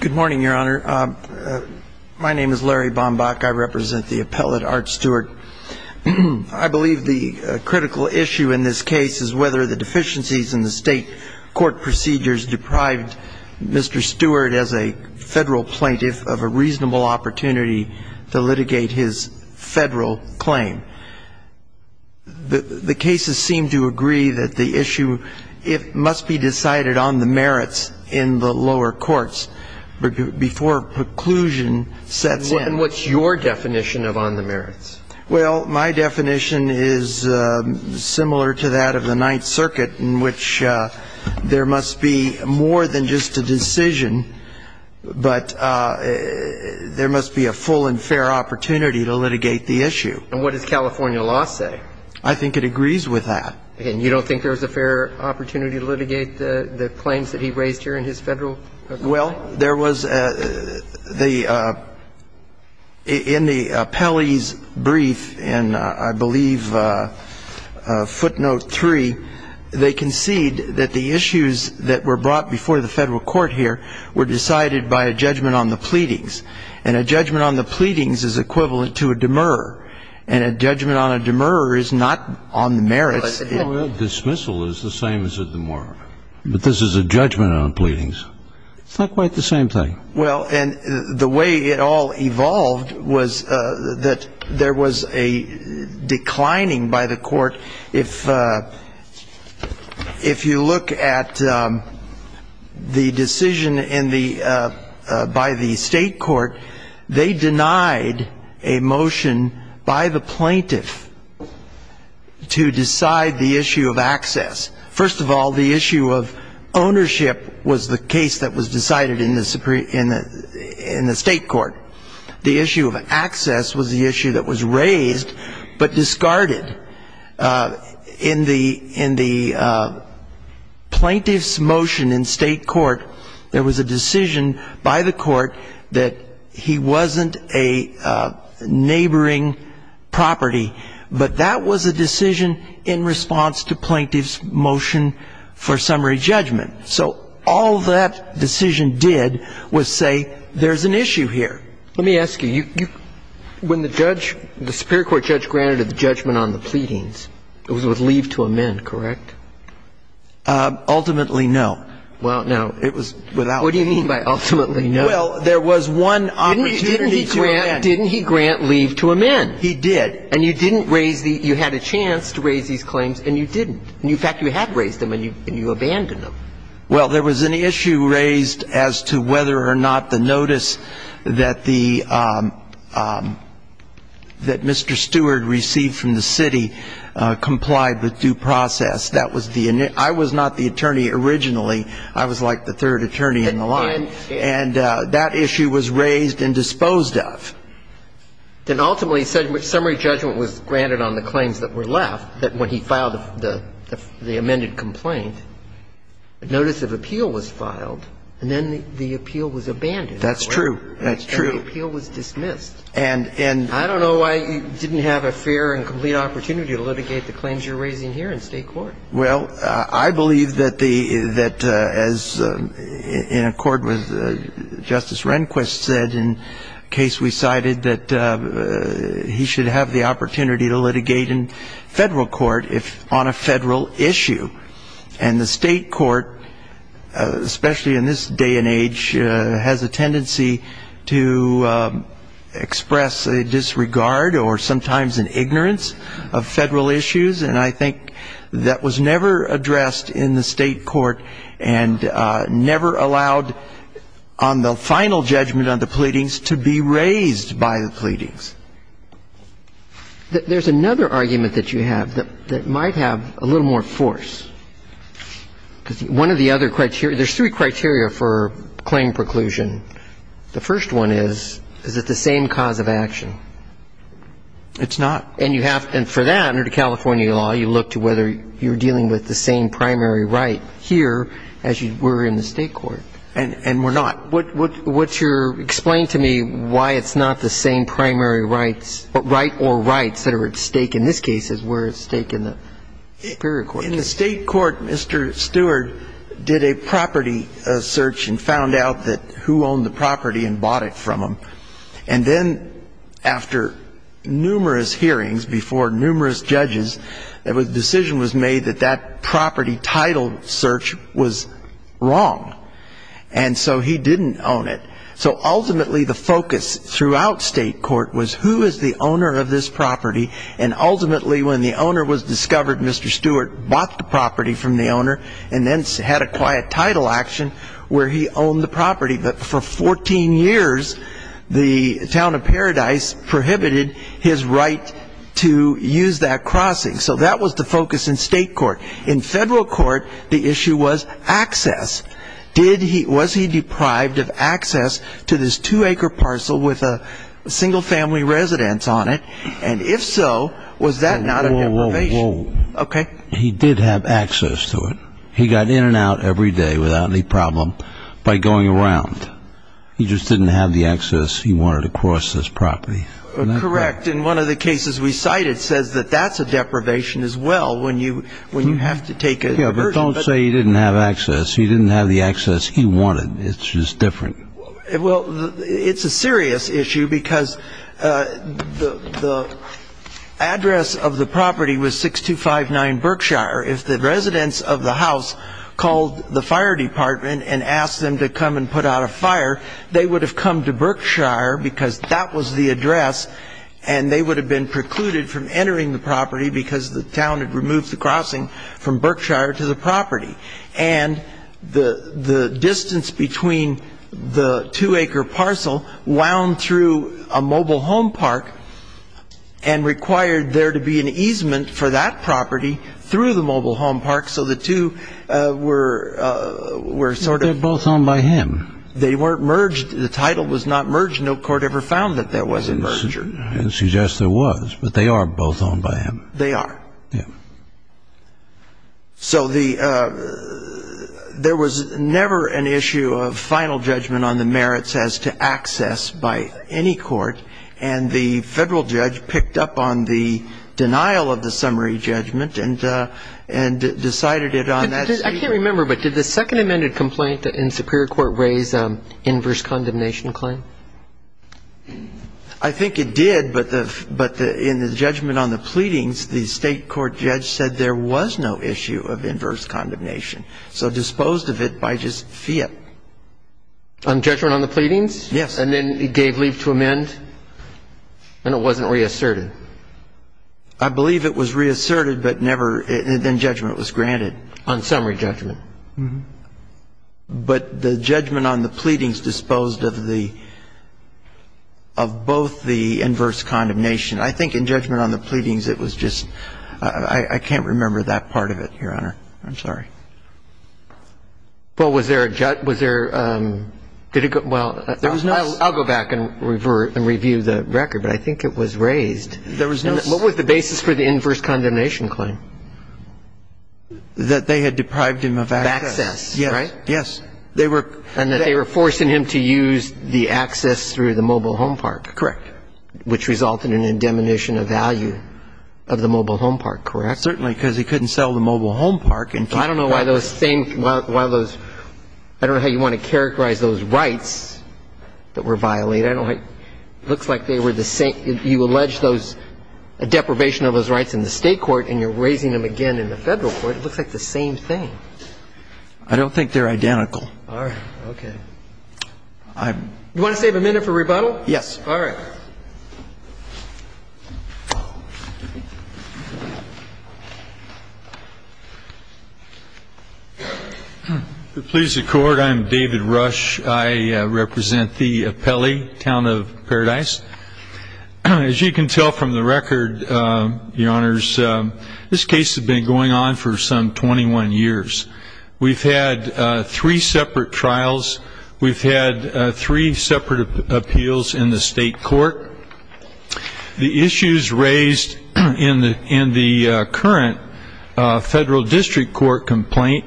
Good morning, Your Honor. My name is Larry Bombach. I represent the appellate Art Stewart. I believe the critical issue in this case is whether the deficiencies in the state court procedures deprived Mr. Stewart as a federal plaintiff of a reasonable opportunity to litigate his federal claim. The cases seem to agree that the issue must be decided on the merits in the lower courts before preclusion sets in. And what's your definition of on the merits? Well, my definition is similar to that of the Ninth Circuit in which there must be more than just a decision, but there must be a full and fair opportunity to litigate the issue. And what does California law say? I think it agrees with that. And you don't think there's a fair opportunity to litigate the claims that he raised here in his federal? Well, there was a, the, in the appellee's brief in, I believe, footnote three, they concede that the issues that were brought before the federal court here were decided by a judgment on the pleadings. And a judgment on the pleadings is equivalent to a demurrer. And a the merits. Well, dismissal is the same as a demurrer, but this is a judgment on pleadings. It's not quite the same thing. Well, and the way it all evolved was that there was a declining by the court. If, if you look at the decision in the, by the state court, they denied a motion by the plaintiff to decide the issue of access. First of all, the issue of ownership was the case that was decided in the Supreme, in the, in the state court. The issue of access was the issue that was raised, but discarded. In the, in the plaintiff's motion in the state court, there was a decision by the court that he wasn't a neighboring property, but that was a decision in response to plaintiff's motion for summary judgment. So all that decision did was say, there's an issue here. Let me ask you, you, you, when the judge, the superior court judge granted the judgment on the pleadings, it was with leave to amend, correct? Ultimately, no. Well, no, it was without. What do you mean by ultimately, no? Well, there was one opportunity to amend. Didn't he grant, didn't he grant leave to amend? He did. And you didn't raise the, you had a chance to raise these claims, and you didn't. In fact, you had raised them, and you, and you abandoned them. Well, there was an issue raised as to whether or not the notice that the, that Mr. Stewart received from the city complied with due process. That was the, I was not the attorney originally. I was like the third attorney in the line. And that issue was raised and disposed of. Then ultimately, summary judgment was granted on the claims that were left, that when he filed the, the amended complaint, notice of appeal was filed, and then the appeal was abandoned. That's true. That's true. And the appeal was dismissed. And, and I don't know why you didn't have a fair and complete opportunity to litigate the claims you're raising here in State court. Well, I believe that the, that as in accord with Justice Rehnquist said in case we cited, that he should have the opportunity to litigate in Federal court if on a Federal issue. And the State court, especially in this day and age, has a tendency to express a disregard or sometimes an ignorance of Federal issues, and I think that was never addressed in the State court and never allowed on the final judgment on the pleadings to be raised by the pleadings. There's another argument that you have that, that might have a little more force. Because one of the other criteria, there's three criteria for claim preclusion. The first one is, is it the same cause of action? It's not. And you have, and for that, under the California law, you look to whether you're dealing with the same primary right here as you were in the State court. And, and we're not. What, what's your, explain to me why it's not the same primary rights, right or rights that are at stake in this case as were at stake in the Superior Court case? In the State court, Mr. Stewart did a property search and found out that who owned the property and bought it from him. And then after numerous hearings before numerous judges, the decision was made that that property title search was wrong. And so he didn't own it. So ultimately, the focus throughout State court was who is the owner of this property, and ultimately when the owner was discovered, Mr. Stewart bought the property from the But for 14 years, the town of Paradise prohibited his right to use that crossing. So that was the focus in State court. In Federal court, the issue was access. Was he deprived of access to this two-acre parcel with a single-family residence on it? And if so, was that not a deprivation? Okay. He did have access to it. He got in and out every day without any problem by going around. He just didn't have the access he wanted to cross this property. Correct. In one of the cases we cited says that that's a deprivation as well when you have to take a diversion. Yeah, but don't say he didn't have access. He didn't have the access he wanted. It's just different. Well, it's a serious issue because the address of the property was 6259 Berkshire. If the residents of the house called the fire department and asked them to come and put out a fire, they would have come to Berkshire because that was the address, and they would have been precluded from entering the property because the town had removed the crossing from Berkshire to the property. And the distance between the two-acre parcel wound through a mobile home park and required there to be an easement for that property through the mobile home park, so the two were sort of ---- They're both owned by him. They weren't merged. The title was not merged. No court ever found that there was a merger. Suggest there was, but they are both owned by him. They are. Yeah. So there was never an issue of final judgment on the merits as to access by any court, and the federal judge picked up on the denial of the summary judgment and decided it on that. I can't remember, but did the second amended complaint in Superior Court raise inverse condemnation claim? I think it did, but in the judgment on the pleadings, the state court judge said there was no issue of inverse condemnation, so disposed of it by just fiat. On judgment on the pleadings? Yes. And then he gave leave to amend, and it wasn't reasserted. I believe it was reasserted, but never ---- and judgment was granted. On summary judgment. But the judgment on the pleadings disposed of the ---- of both the inverse condemnation. I think in judgment on the pleadings, it was just ---- I can't remember that part of it, Your Honor. I'm sorry. Well, was there a jut ---- was there ---- did it go ---- well, I'll go back and review the record, but I think it was raised. There was no ---- What was the basis for the inverse condemnation claim? That they had deprived him of access. Of access, right? Yes. They were ---- And that they were forcing him to use the access through the mobile home park. Correct. Which resulted in an indemnation of value of the mobile home park, correct? Certainly, because he couldn't sell the mobile home park. I don't know why those same ---- why those ---- I don't know how you want to characterize those rights that were violated. I don't ---- it looks like they were the same. You allege those deprivation of those rights in the State court and you're raising them again in the Federal court. It looks like the same thing. I don't think they're identical. All right. Okay. I'm ---- You want to save a minute for rebuttal? Yes. All right. Please be seated. To please the Court, I'm David Rush. I represent the Pele town of Paradise. As you can tell from the record, Your Honors, this case has been going on for some 21 years. We've had three separate trials. We've had three separate appeals in the State court. The issues raised in the current Federal district court complaint,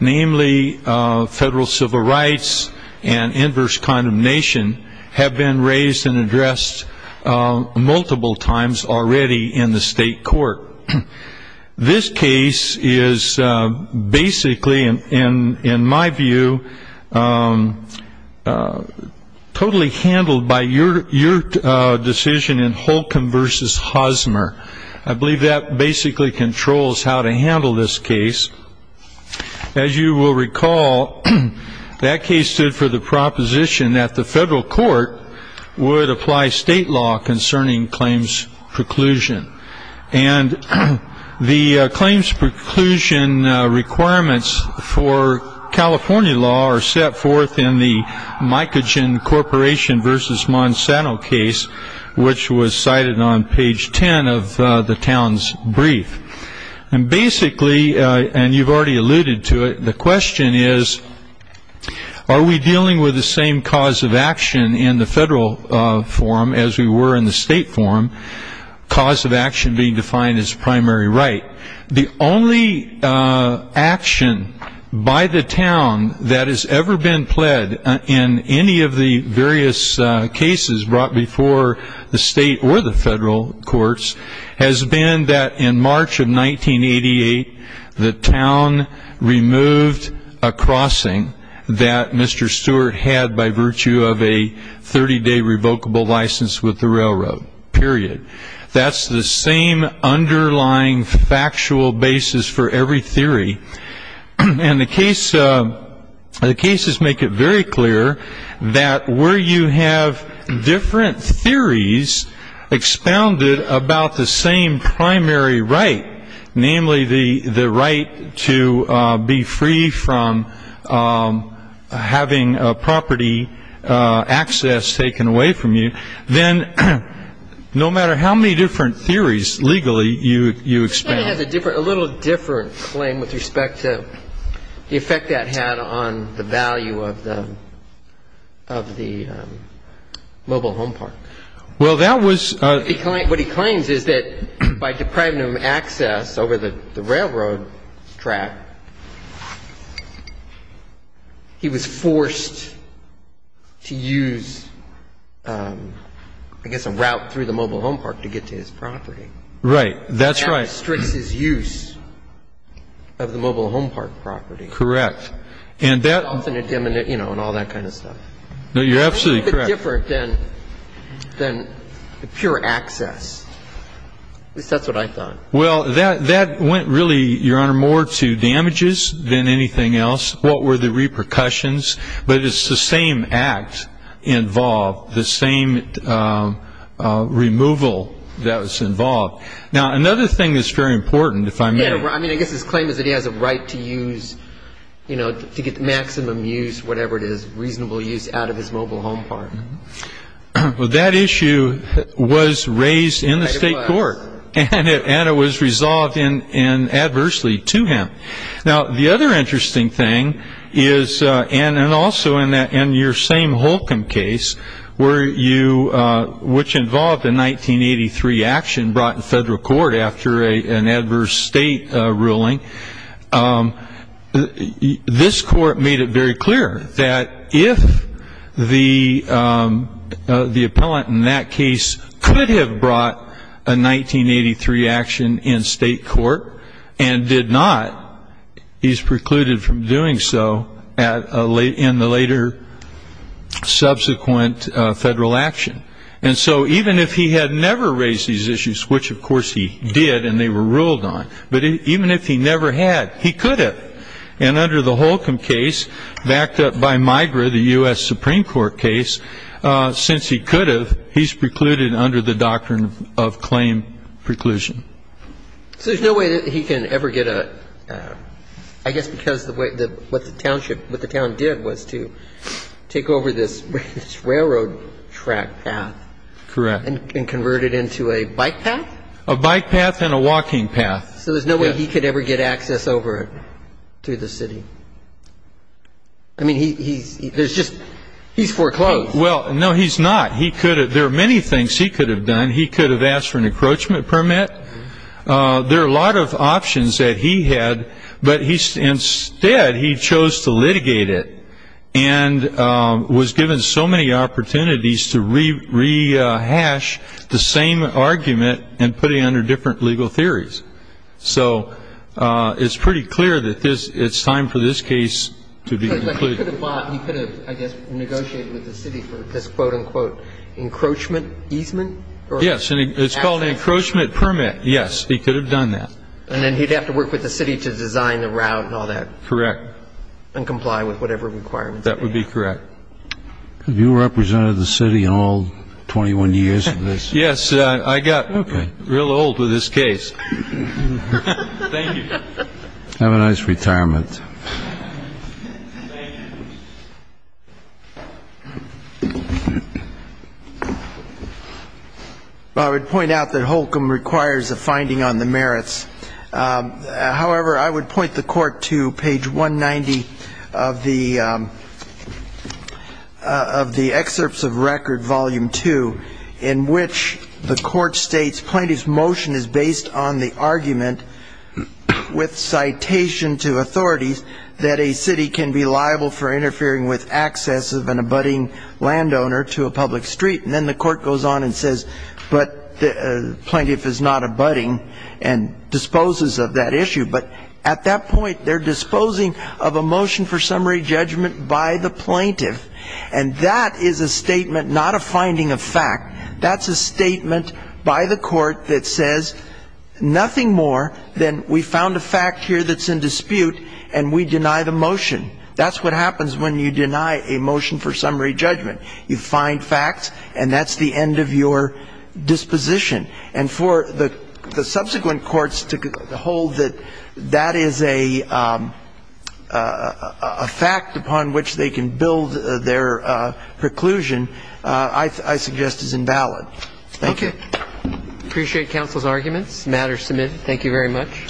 namely Federal civil rights and inverse condemnation, have been raised and addressed multiple times already in the State court. This case is basically, in my view, totally handled by your decision in Holcomb v. Hosmer. I believe that basically controls how to handle this case. As you will recall, that case stood for the proposition that the Federal court would apply State law concerning claims preclusion. And the claims preclusion requirements for California law are set forth in the Mycogen Corporation v. Monsanto case, which was cited on page 10 of the town's brief. And basically, and you've already alluded to it, the question is, are we dealing with the same cause of action in the Federal forum as we were in the State forum, cause of action being defined as primary right? The only action by the town that has ever been pled in any of the various cases brought before the State or the Federal courts has been that in March of 1988, the town removed a crossing that Mr. Stewart had by virtue of a 30-day revocable license with the railroad, period. That's the same underlying factual basis for every theory. And the cases make it very clear that where you have different theories expounded about the same primary right, namely the right to be free from having property access taken away from you, then no matter how many different theories legally you expand. This guy has a little different claim with respect to the effect that had on the value of the mobile home park. Well, that was a What he claims is that by depriving him of access over the railroad track, he was forced to use, I guess, a route through the mobile home park to get to his property. Right. That's right. And that restricts his use of the mobile home park property. Correct. And that And all that kind of stuff. No, you're absolutely correct. It's different than pure access. At least that's what I thought. Well, that went really, Your Honor, more to damages than anything else. What were the repercussions? But it's the same act involved, the same removal that was involved. Now, another thing that's very important, if I may. Yeah. I mean, I guess his claim is that he has a right to use, you know, to get maximum use, whatever it is, reasonable use out of his mobile home park. Well, that issue was raised in the state court. It was. And it was resolved adversely to him. Now, the other interesting thing is, and also in your same Holcomb case, which involved a 1983 action brought in federal court after an adverse state ruling, this court made it very clear that if the appellant in that case could have brought a 1983 action in state court and did not, he's precluded from doing so in the later subsequent federal action. And so even if he had never raised these issues, which, of course, he did and they were ruled on, but even if he never had, he could have. And under the Holcomb case, backed up by MIGRA, the U.S. Supreme Court case, since he could have, he's precluded under the doctrine of claim preclusion. So there's no way that he can ever get a ‑‑ I guess because what the town did was to take over this railroad track path. Correct. And convert it into a bike path? A bike path and a walking path. So there's no way he could ever get access over it to the city? I mean, he's foreclosed. Well, no, he's not. There are many things he could have done. He could have asked for an encroachment permit. There are a lot of options that he had, but instead he chose to litigate it and was given so many opportunities to rehash the same argument and put it under different legal theories. So it's pretty clear that it's time for this case to be concluded. But he could have, I guess, negotiated with the city for this, quote, unquote, encroachment easement? Yes, and it's called an encroachment permit. Yes, he could have done that. And then he'd have to work with the city to design the route and all that. Correct. And comply with whatever requirements. That would be correct. Have you represented the city in all 21 years of this? Yes. I got real old with this case. Thank you. Have a nice retirement. Thank you. I would point out that Holcomb requires a finding on the merits. However, I would point the court to page 190 of the Excerpts of Record, Volume 2, in which the court states plaintiff's motion is based on the argument with citation to authorities that a city can be liable for interfering with access of an abutting landowner to a public street. And then the court goes on and says, but the plaintiff is not abutting and disposes of that issue. But at that point, they're disposing of a motion for summary judgment by the plaintiff. And that is a statement, not a finding of fact. That's a statement by the court that says nothing more than we found a fact here that's in dispute and we deny the motion. That's what happens when you deny a motion for summary judgment. You find facts, and that's the end of your disposition. And for the subsequent courts to hold that that is a fact upon which they can build their preclusion, I suggest is invalid. Thank you. Okay. Appreciate counsel's arguments. The matter is submitted. Thank you very much.